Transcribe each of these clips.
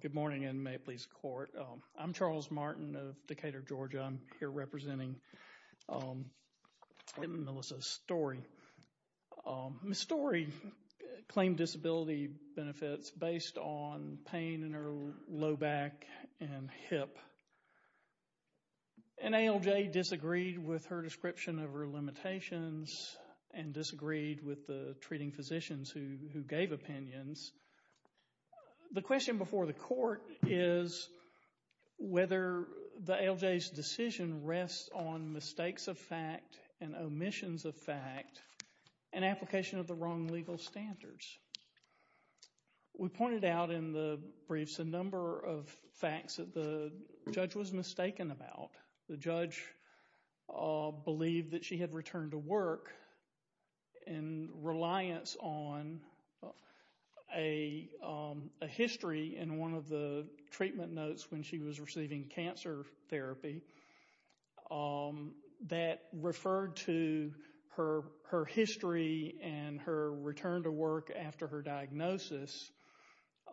Good morning and may it please the court. I'm Charles Martin of Decatur, Georgia. I'm here representing Melissa Storey. Ms. Storey claimed disability benefits based on pain in her low back and hip and ALJ disagreed with her description of her The question before the court is whether the ALJ's decision rests on mistakes of fact and omissions of fact and application of the wrong legal standards. We pointed out in the briefs a number of facts that the judge was mistaken about. The judge believed that she had returned to work in reliance on a history in one of the treatment notes when she was receiving cancer therapy that referred to her history and her return to work after her diagnosis.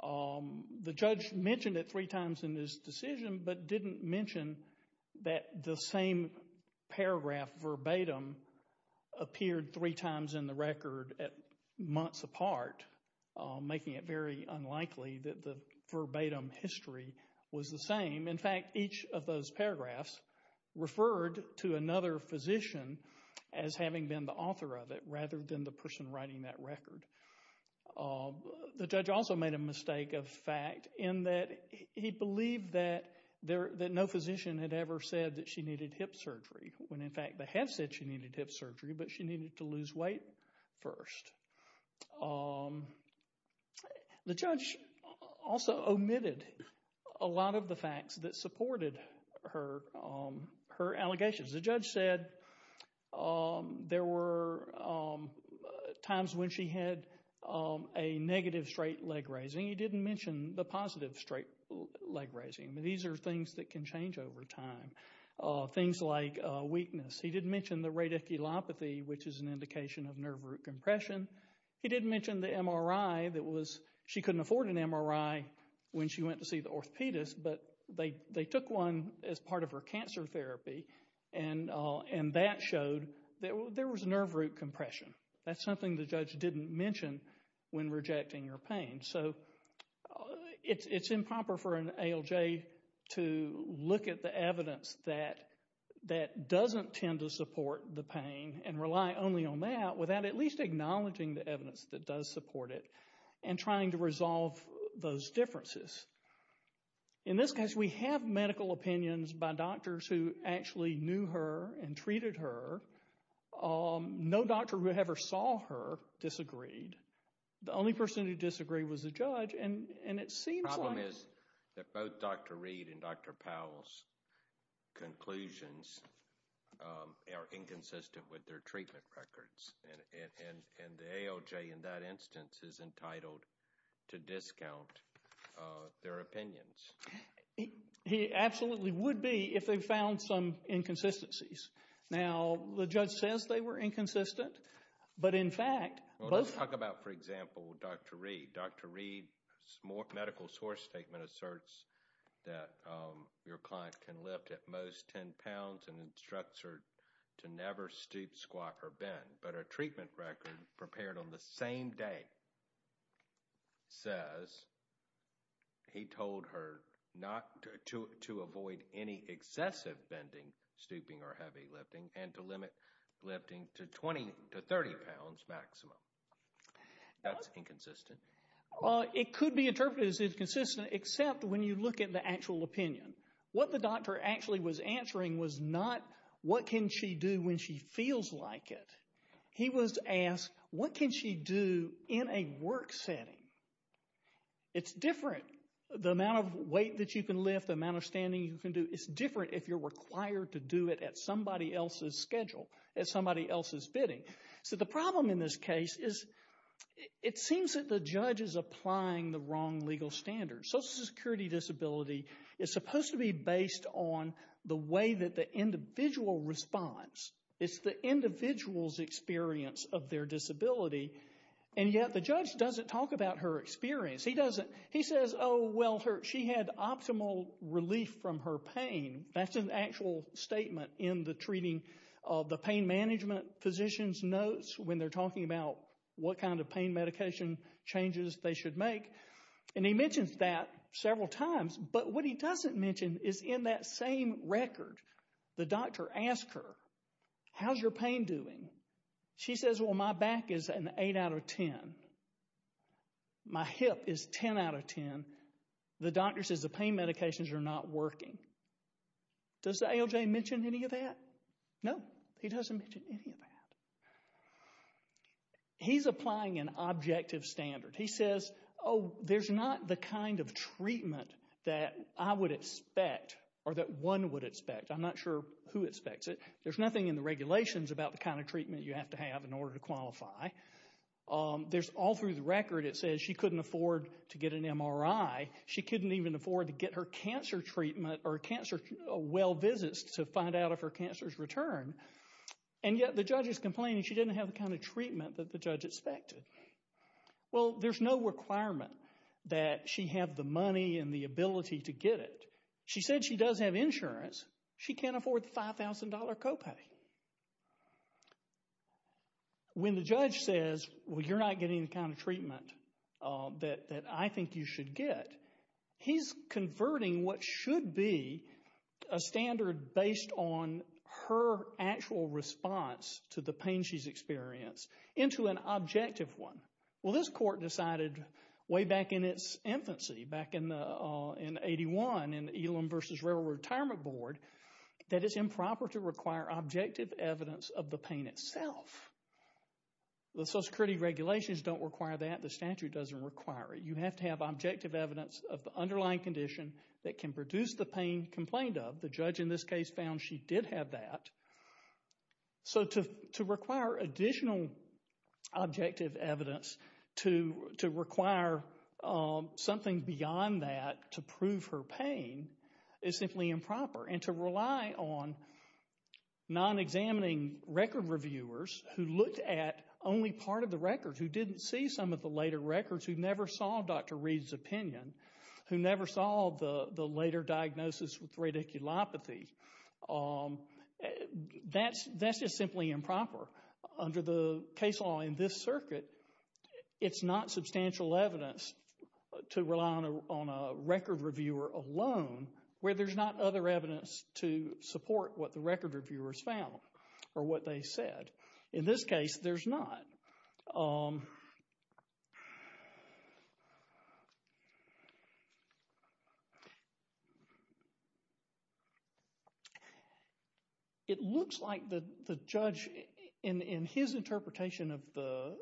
The judge mentioned it three times in his decision but didn't mention that the same paragraph verbatim appeared three times in the record at months apart making it very unlikely that the verbatim history was the same. In fact, each of those paragraphs referred to another physician as having been the author of it rather than the person writing that record. The judge also made a mistake of fact in that he believed that there that no physician had ever said that she needed hip surgery when in fact they have said she needed hip surgery but she needed to lose weight first. The judge also omitted a lot of the facts that she had a negative straight leg raising. He didn't mention the positive straight leg raising. These are things that can change over time. Things like weakness. He didn't mention the radiculopathy which is an indication of nerve root compression. He didn't mention the MRI that was she couldn't afford an MRI when she went to see the orthopedist but they they took one as part of her cancer therapy and that showed that there was nerve root compression. That's something the didn't mention when rejecting her pain. So it's improper for an ALJ to look at the evidence that that doesn't tend to support the pain and rely only on that without at least acknowledging the evidence that does support it and trying to resolve those differences. In this case we have medical opinions by doctors who actually knew her and treated her. No doctor who ever saw her disagreed. The only person who disagreed was the judge and and it seems like... The problem is that both Dr. Reed and Dr. Powell's conclusions are inconsistent with their treatment records and the ALJ in that instance is entitled to discount their opinions. He absolutely would be if they found some inconsistencies. Now the were inconsistent but in fact... Let's talk about for example Dr. Reed. Dr. Reed's medical source statement asserts that your client can lift at most 10 pounds and instructs her to never stoop, squat, or bend but a treatment record prepared on the same day says he told her not to avoid any excessive bending, stooping, or heavy lifting and to limit lifting to 20 to 30 pounds maximum. That's inconsistent. It could be interpreted as inconsistent except when you look at the actual opinion. What the doctor actually was answering was not what can she do when she feels like it. He was asked what can she do in a work setting. It's different. The amount of weight that you can lift, the amount of standing you can do, it's different if you're required to do it at somebody else's schedule, at somebody else's bidding. So the problem in this case is it seems that the judge is applying the wrong legal standards. Social Security disability is supposed to be based on the way that the individual responds. It's the individual's experience of their disability and yet the judge doesn't talk about her experience. He doesn't. He says, oh, well, she had optimal relief from her pain. That's an actual statement in the treating of the pain management physician's notes when they're talking about what kind of pain medication changes they should make and he mentions that several times but what he doesn't mention is in that same record the doctor asked her, how's your pain doing? She says, well, my back is an 8 out of 10. My hip is 10 out of 10. The doctor says the pain medications are not working. Does the ALJ mention any of that? No, he doesn't mention any of that. He's applying an objective standard. He says, oh, there's not the kind of treatment that I would expect or that one would expect. I'm not sure who expects it. There's nothing in the regulations about the kind of treatment you have to have in order to qualify. There's all through the record, it says she couldn't afford to get an MRI. She couldn't even afford to get her cancer treatment or cancer well visits to find out if her cancer's returned and yet the judge is complaining she didn't have the kind of treatment that the judge expected. Well, there's no requirement that she have the money and the ability to get it. She said she does have insurance. She can't afford $5,000 copay. When the judge says, well, you're not getting the kind of treatment that I think you should get, he's converting what should be a standard based on her actual response to the pain she's experienced into an objective one. Well, this court decided way back in its retirement board that it's improper to require objective evidence of the pain itself. The Social Security regulations don't require that. The statute doesn't require it. You have to have objective evidence of the underlying condition that can produce the pain complained of. The judge in this case found she did have that. So to require additional objective evidence to require something beyond that to prove her pain is simply improper. And to rely on non-examining record reviewers who looked at only part of the records, who didn't see some of the later records, who never saw Dr. Reed's opinion, who never saw the later diagnosis with it's not substantial evidence to rely on a record reviewer alone where there's not other evidence to support what the record reviewers found or what they said. In this case, there's not. It looks like the judge in his interpretation of the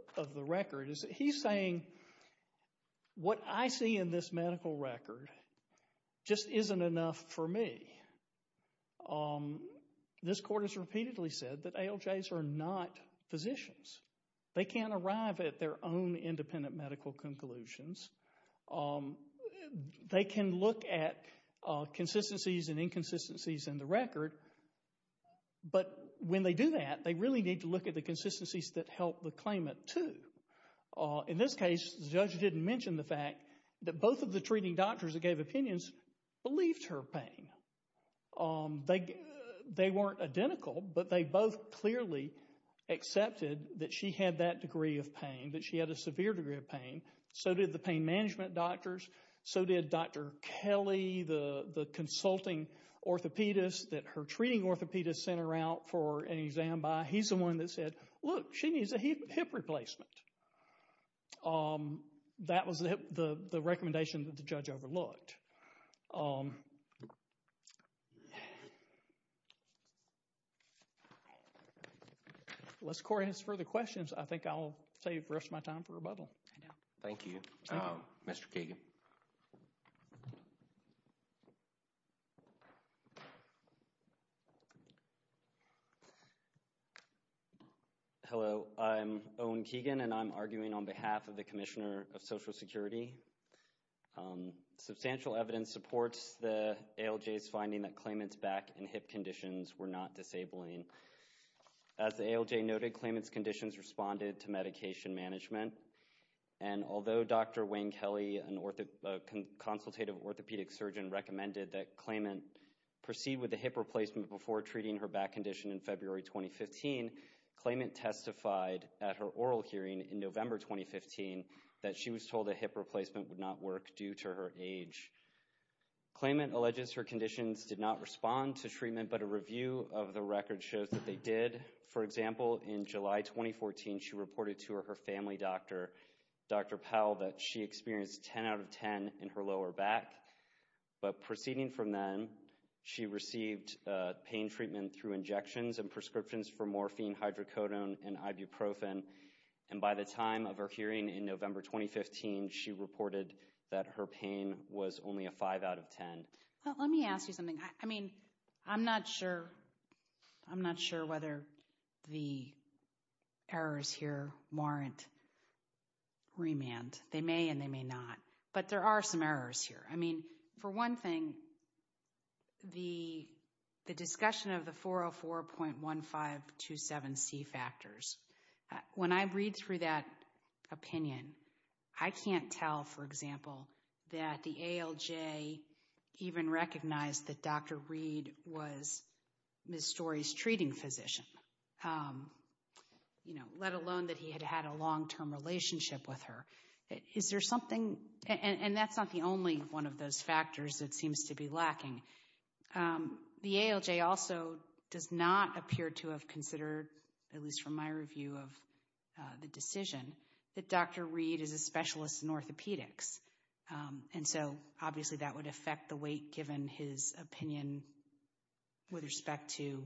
record is he's saying what I see in this medical record just isn't enough for me. This court has repeatedly said that ALJs are not physicians. They can't arrive at their own independent medical conclusions. They can look at consistencies and inconsistencies in the record, but when they do that, they really need to look at the consistencies that help the claimant too. In this case, the judge didn't mention the fact that both of the treating doctors that gave her pain, they weren't identical, but they both clearly accepted that she had that degree of pain, that she had a severe degree of pain. So did the pain management doctors. So did Dr. Kelly, the consulting orthopedist that her treating orthopedist sent her out for an exam by. He's the one that said, look, she needs a hip replacement. That was the recommendation that the judge overlooked. Unless Corey has further questions, I think I'll save the rest of my time for rebuttal. Thank you. Mr. Keegan. Hello, I'm Owen Keegan, and I'm arguing on behalf of the Commissioner of Social Security. Substantial evidence supports the ALJ's finding that claimant's back and hip conditions were not disabling. As the ALJ noted, claimant's conditions responded to medication management, and although Dr. Wayne Kelly, a consultative orthopedic surgeon, recommended that claimant proceed with the hip replacement before treating her back condition in February 2015, claimant testified at her oral hearing in November 2015 that she was told a hip replacement would not work due to her age. Claimant alleges her conditions did not respond to treatment, but a review of the record shows that they did. For example, in July 2014, she reported to her family doctor, Dr. Powell, that she experienced 10 out of 10 in her lower back. But proceeding from then, she received pain treatment through injections and prescriptions for morphine, hydrocodone, and ibuprofen. By the time of her hearing in November 2015, she reported that her pain was only a 5 out of 10. Let me ask you something. I'm not sure whether the errors here warrant remand. They may and they may not. But there are some errors here. For one thing, the discussion of the 404.1527C factors, when I read through that opinion, I can't tell, for example, that the ALJ even recognized that Dr. Reed was Ms. Story's treating physician, you know, let alone that he had had a long-term relationship with her. Is there something, and that's not the only one of those factors that seems to be lacking. The ALJ also does not appear to have considered, at least from my review of the decision, that Dr. Reed is a specialist in orthopedics. And so, obviously, that would affect the weight given his opinion with respect to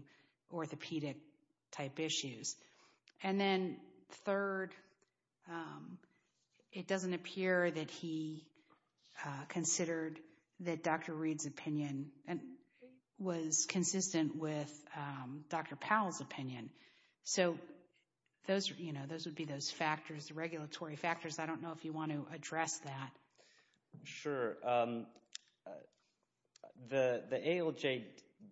considered that Dr. Reed's opinion was consistent with Dr. Powell's opinion. So, those, you know, those would be those factors, the regulatory factors. I don't know if you want to address that. Sure. The ALJ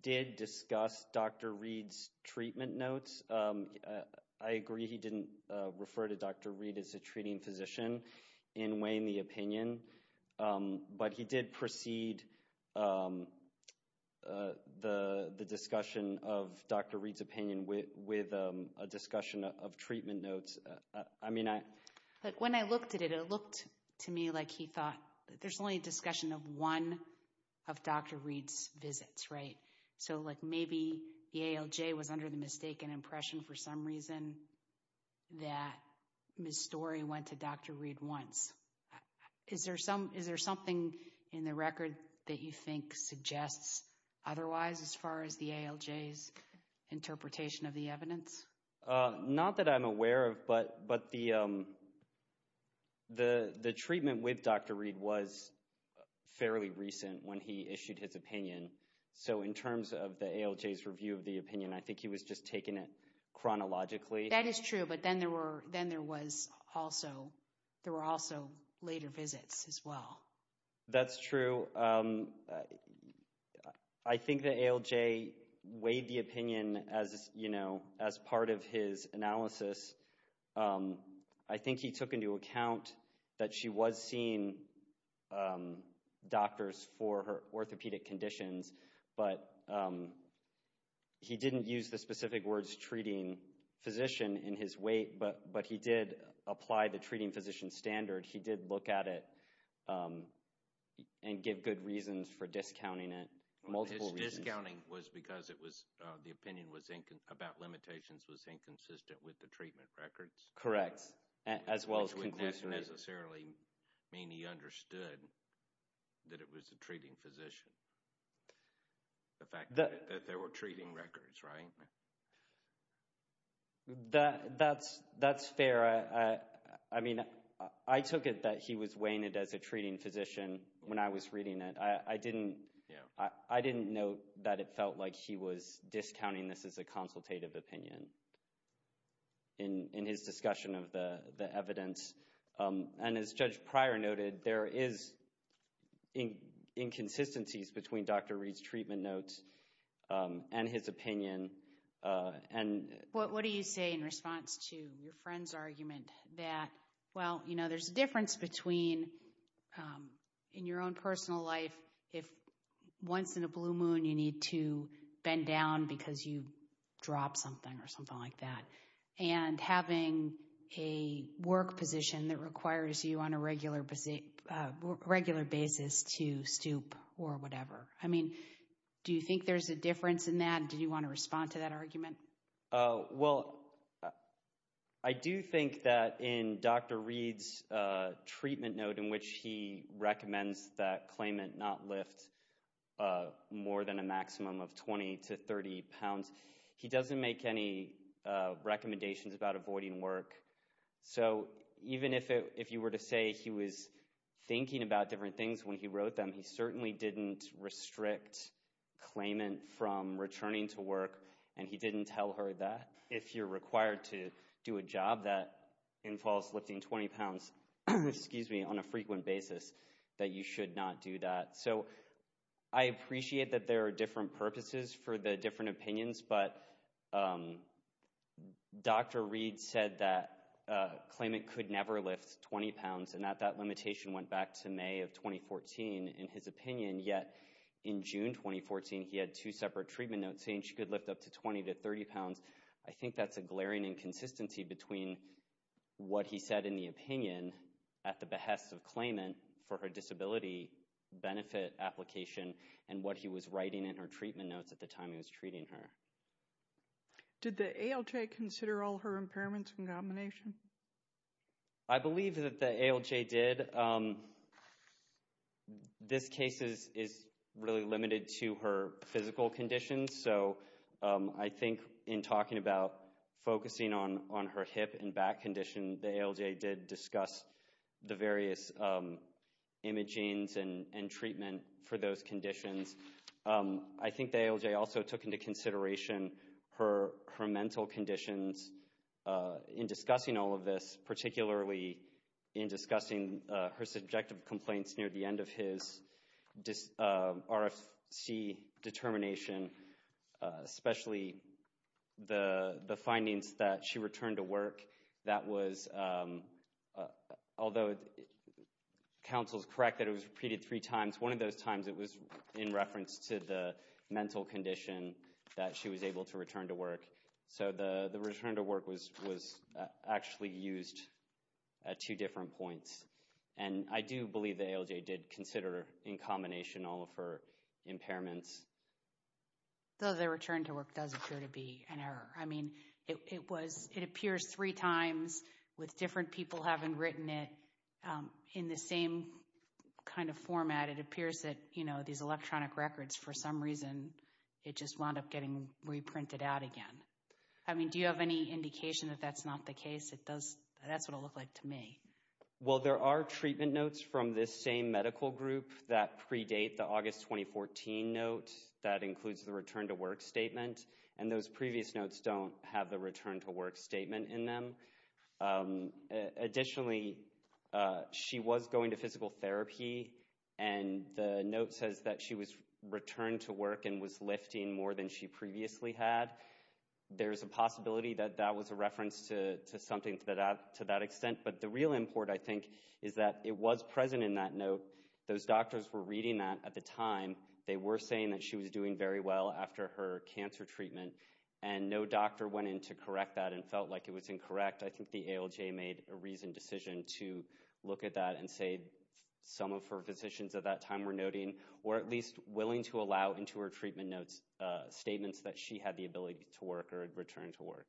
did discuss Dr. Reed's treatment notes. I agree he didn't refer to Dr. Reed as a treating physician in weighing the opinion, but he did precede the discussion of Dr. Reed's opinion with a discussion of treatment notes. I mean, I... Like, when I looked at it, it looked to me like he thought there's only a discussion of one of Dr. Reed's visits, right? So, like, maybe the ALJ was under the mistaken impression for some reason that Ms. Storey went to Dr. Reed once. Is there something in the record that you think suggests otherwise as far as the ALJ's interpretation of the evidence? Not that I'm aware of, but the treatment with Dr. Reed was fairly recent when he issued his opinion. So, in terms of the ALJ's review of the opinion, I think he was just taking it chronologically. That is true, but then there were also later visits as well. That's true. I think the ALJ weighed the opinion as, you know, as part of his analysis. I think he took into account that she was seeing doctors for her orthopedic conditions, but he didn't use the specific words treating physician in his weight, but he did apply the treating physician standard. He did look at it and give good reasons for discounting it, multiple reasons. His discounting was because the opinion about limitations was inconsistent with the treatment records? Correct, as well as conclusively... the fact that there were treating records, right? That's fair. I mean, I took it that he was weighing it as a treating physician when I was reading it. I didn't note that it felt like he was discounting this as a consultative opinion in his discussion of the evidence. And as Judge Pryor noted, there is inconsistencies between Dr. Reed's treatment notes and his opinion. What do you say in response to your friend's argument that, well, you know, there's a difference between in your own personal life, if once in a blue moon, you need to bend down because you drop something or something like that, and having a work position that requires you on a regular basis to stoop or whatever. I mean, do you think there's a difference in that? Do you want to respond to that argument? Well, I do think that in Dr. Reed's treatment note in which he recommends that claimant not lift more than a maximum of 20 to 30 So even if you were to say he was thinking about different things when he wrote them, he certainly didn't restrict claimant from returning to work. And he didn't tell her that if you're required to do a job that involves lifting 20 pounds, excuse me, on a frequent basis, that you should not do that. So I appreciate that there are different purposes for the different claimant could never lift 20 pounds and that that limitation went back to May of 2014 in his opinion. Yet in June 2014, he had two separate treatment notes saying she could lift up to 20 to 30 pounds. I think that's a glaring inconsistency between what he said in the opinion at the behest of claimant for her disability benefit application and what he was writing in her treatment notes at the time he was treating her. Did the ALJ consider all her impairments in combination? I believe that the ALJ did. This case is really limited to her physical conditions. So I think in talking about focusing on her hip and back condition, the ALJ did discuss the various imagings and treatment for those conditions. I think the ALJ also took into consideration her mental conditions in discussing all of this, particularly in discussing her subjective complaints near the end of his RFC determination, especially the findings that she returned to work that was, although counsel's correct that it was repeated three times, one of those times it was in reference to the mental condition that she was able to return to work. So the return to work was actually used at two different points. And I do believe the ALJ did consider in combination all of her impairments. Though the return to work does appear to be an error. I mean, it was, it appears three times with different people having written it in the same kind of format. It appears that, you know, these electronic records, for some reason, it just wound up getting reprinted out again. I mean, do you have any indication that that's not the case? It does, that's what it looked like to me. Well, there are treatment notes from this same medical group that predate the August 2014 note that includes the return to work statement. And those previous notes don't have the return to work statement in them. Additionally, she was going to physical therapy. And the note says that she was returned to work and was lifting more than she previously had. There's a possibility that that was a reference to something to that extent. But the real import, I think, is that it was present in that note. Those doctors were reading that at the time. They were saying that she was doing very well after her cancer treatment. And no doctor went in to correct that and felt like it was incorrect. I think the ALJ made a reasoned decision to look at that and say some of her physicians at that time were noting or at least willing to allow into her treatment notes statements that she had the ability to work or return to work.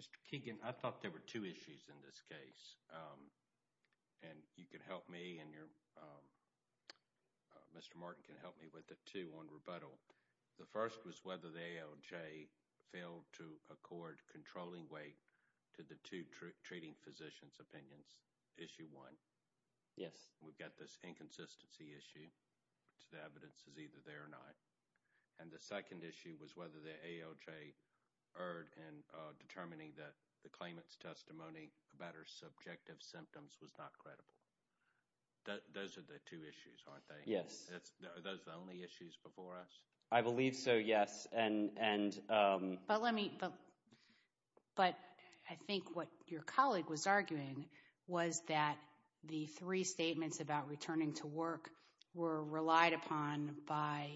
Mr. Keegan, I thought there were two issues in this First was whether the ALJ failed to accord controlling weight to the two treating physicians' opinions. Issue one. Yes. We've got this inconsistency issue, which the evidence is either there or not. And the second issue was whether the ALJ erred in determining that the claimant's testimony about her subjective symptoms was not credible. Those are the two issues, aren't they? Yes. Are those the only issues before us? I believe so, yes. But I think what your colleague was arguing was that the three statements about returning to work were relied upon by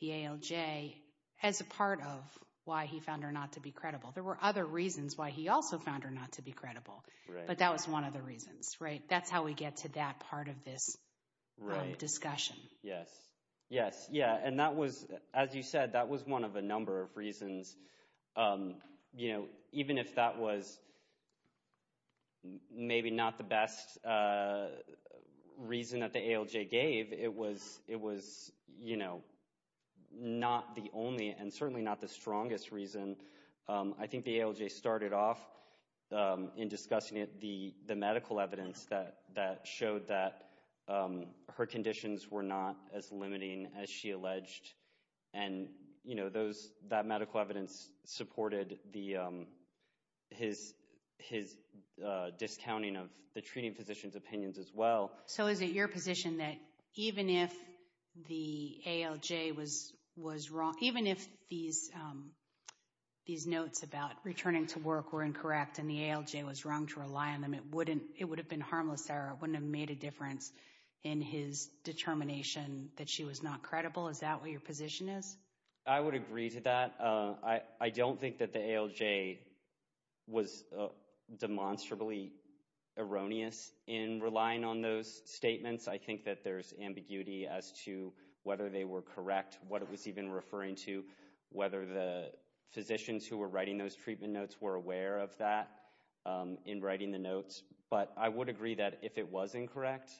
the ALJ as a part of why he found her not to be credible. There were other reasons why he also found her not to be credible. But that was one of the reasons, right? That's how we get to that part of this discussion. Yes, yes, yeah. And that was, as you said, that was one of a number of reasons. You know, even if that was maybe not the best reason that the ALJ gave, it was it was, you know, not the only and certainly not the strongest reason. I think the ALJ started off in discussing the medical evidence that showed that her conditions were not as limiting as she alleged. And, you know, that medical evidence supported his discounting of the treating physician's opinions as well. So is it your position that even if the ALJ was wrong, even if these notes about returning to work were incorrect and the ALJ was wrong to rely on them, it wouldn't, it would have been harmless error. It wouldn't have made a difference in his determination that she was not credible. Is that what your position is? I would agree to that. I don't think that the ALJ was demonstrably erroneous in relying on those statements. I think that there's ambiguity as to whether they were correct, what it was even referring to, whether the physicians who were writing those treatment notes were aware of that in writing the notes. But I would agree that if it was incorrect,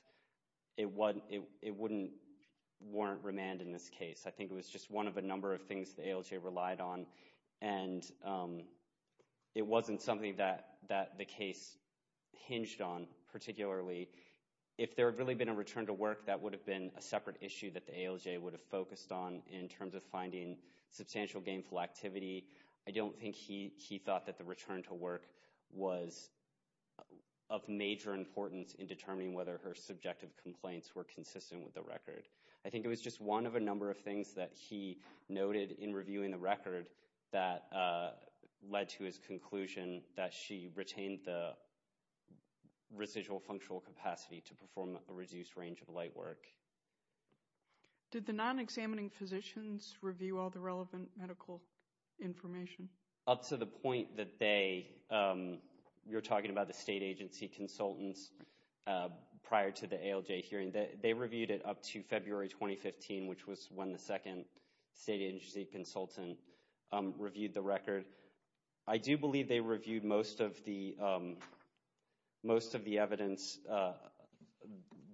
it wouldn't warrant remand in this case. I think it was just one of a number of things the ALJ relied on. And it wasn't something that the case hinged on particularly. If there had really been a return to work, that would have been a separate issue that the ALJ would have focused on in terms of finding substantial gainful activity. I don't think he thought that the return to work was of major importance in determining whether her subjective complaints were consistent with the record. I think it was just one of a number of things that he noted in reviewing the record that led to his conclusion that she retained the residual functional capacity to perform a reduced range of light work. Did the non-examining physicians review all the relevant medical information? Up to the point that they, you're talking about the state agency consultants prior to the ALJ hearing, that they reviewed it up to February 2015, which was when the second state agency consultant reviewed the record. I do believe they reviewed most of the evidence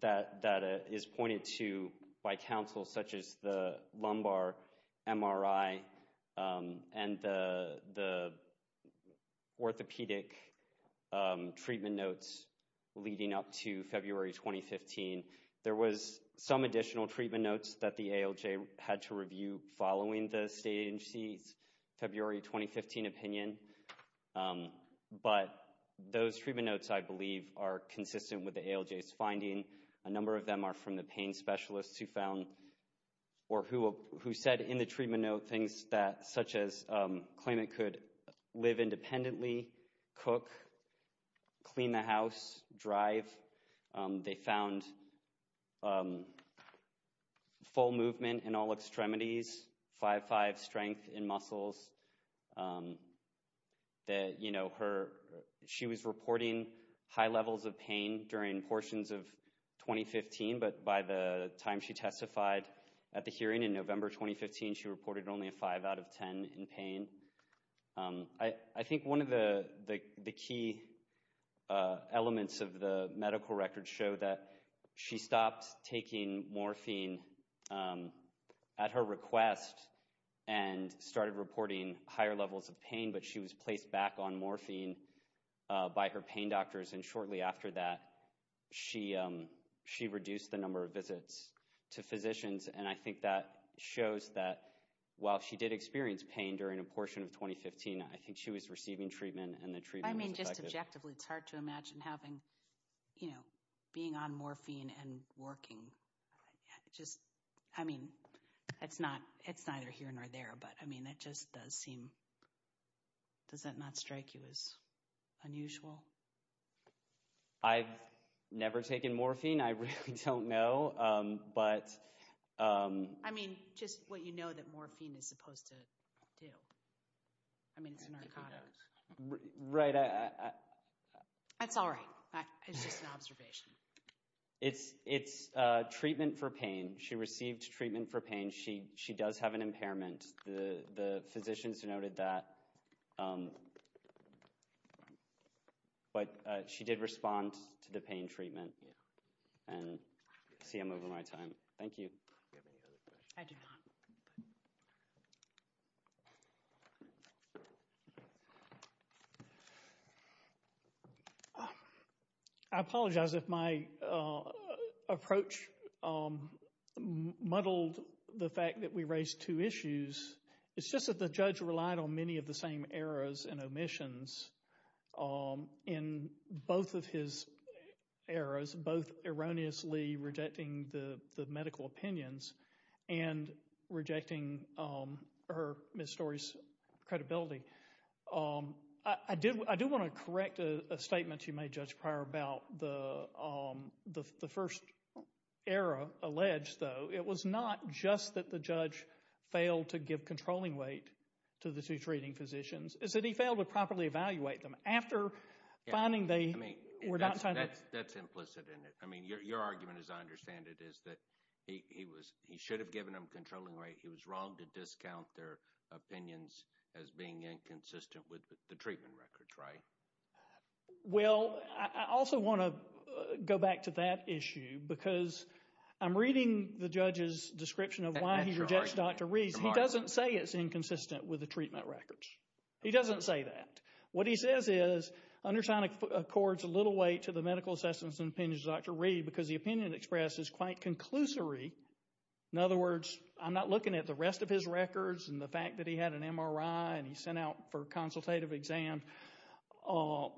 that is pointed to by counsel such as the lumbar MRI and the orthopedic treatment notes leading up to February 2015. There was some additional treatment notes that included the state agency's February 2015 opinion, but those treatment notes I believe are consistent with the ALJ's finding. A number of them are from the pain specialists who found, or who said in the treatment note things that, such as claiming could live independently, cook, clean the house, drive. They found full movement in all extremities, 5-5 strength in muscles. She was reporting high levels of pain during portions of 2015, but by the time she testified at the hearing in November 2015, she reported only a 5 out of 10 in pain. I think one of the key elements of the medical record showed that she stopped taking morphine at her request and started reporting higher levels of pain, but she was placed back on morphine by her pain doctors, and shortly after that she reduced the number of visits to physicians, and I think that shows that while she did experience pain during a portion of 2015, I think she was receiving treatment and the treatment was effective. I mean, just objectively, it's hard to imagine having, you know, being on morphine and working. Just, I mean, it's not, it's neither here nor there, but I mean, it just does seem, does that not strike you as unusual? I've never taken morphine. I really don't know, but... I mean, just what you know that morphine is supposed to do. I mean, it's a narcotic. Right. That's all right. That is just an observation. It's treatment for pain. She received treatment for pain. She does have an impairment. The physicians noted that, but she did respond to the pain treatment, and I see I'm over my time. Thank you. I apologize if my approach muddled the fact that we raised two issues. It's just that the judge relied on many of the same errors and omissions in both of his errors, both erroneously rejecting the medical opinions and rejecting her, Ms. Story's, credibility. I do want to correct a statement you made, Judge Pryor, about the first error alleged, though. It was not just that the judge failed to give controlling weight to the two treating physicians. It's that he failed to properly evaluate them after finding they were not trying to... That's implicit in it. I mean, your argument, as I understand it, is that he should have given them controlling weight. He was wrong to discount their opinions as being inconsistent with the treatment records, right? Well, I also want to go back to that issue because I'm reading the judge's description of why he rejects Dr. Reed. He doesn't say it's inconsistent with the treatment records. He doesn't say that. What he says is, undersigned accords a little weight to the medical assessments and opinions of Dr. Reed because the opinion expressed is quite conclusory. In other words, I'm not looking at the rest of his records and the fact that he had an MRI and he sent out for consultative exam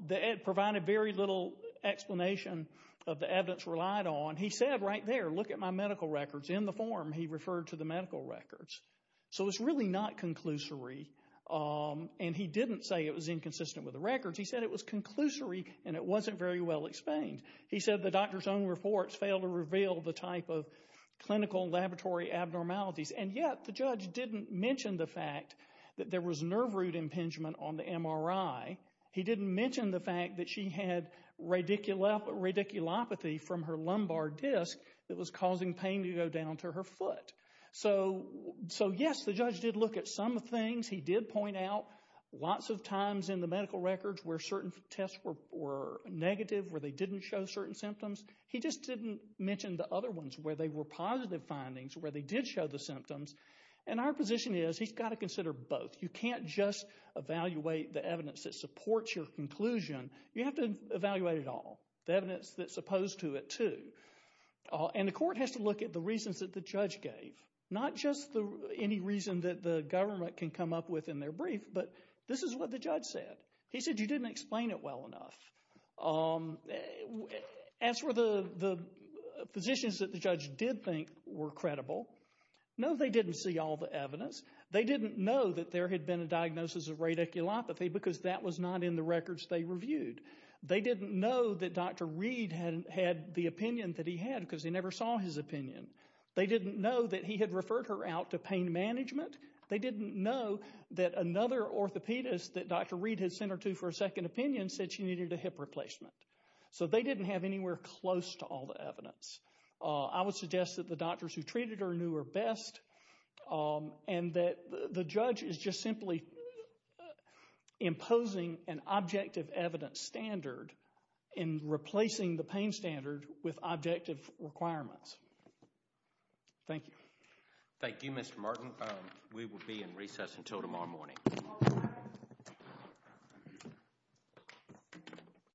that provided very little explanation of the evidence relied on. He said right there, look at my medical records. In the form, he referred to the medical records. So it's really not conclusory and he didn't say it was inconsistent with the records. He said it was conclusory and it wasn't very well explained. He said the doctor's own reports failed to reveal the type of clinical laboratory abnormalities and yet the judge didn't mention the fact that there was nerve root impingement on the MRI. He didn't mention the fact that she had radiculopathy from her lumbar disc that was causing pain to go down to her foot. So yes, the judge did look at some things. He did point out lots of times in the medical records where certain tests were negative, where they didn't show certain symptoms. He just didn't mention the other ones where they were positive findings, where they did show the symptoms. And our position is, he's got to consider both. You can't just evaluate the evidence that supports your conclusion. You have to and the court has to look at the reasons that the judge gave, not just any reason that the government can come up with in their brief, but this is what the judge said. He said you didn't explain it well enough. As for the physicians that the judge did think were credible, no, they didn't see all the evidence. They didn't know that there had been a diagnosis of radiculopathy because that was not in the records they reviewed. They didn't know that Dr. Reed had the opinion that he had because they never saw his opinion. They didn't know that he had referred her out to pain management. They didn't know that another orthopedist that Dr. Reed had sent her to for a second opinion said she needed a hip replacement. So they didn't have anywhere close to all the evidence. I would suggest that the doctors who treated her knew her best and that the judge is just simply imposing an objective evidence standard in replacing the standard with objective requirements. Thank you. Thank you, Mr. Martin. We will be in recess until tomorrow morning.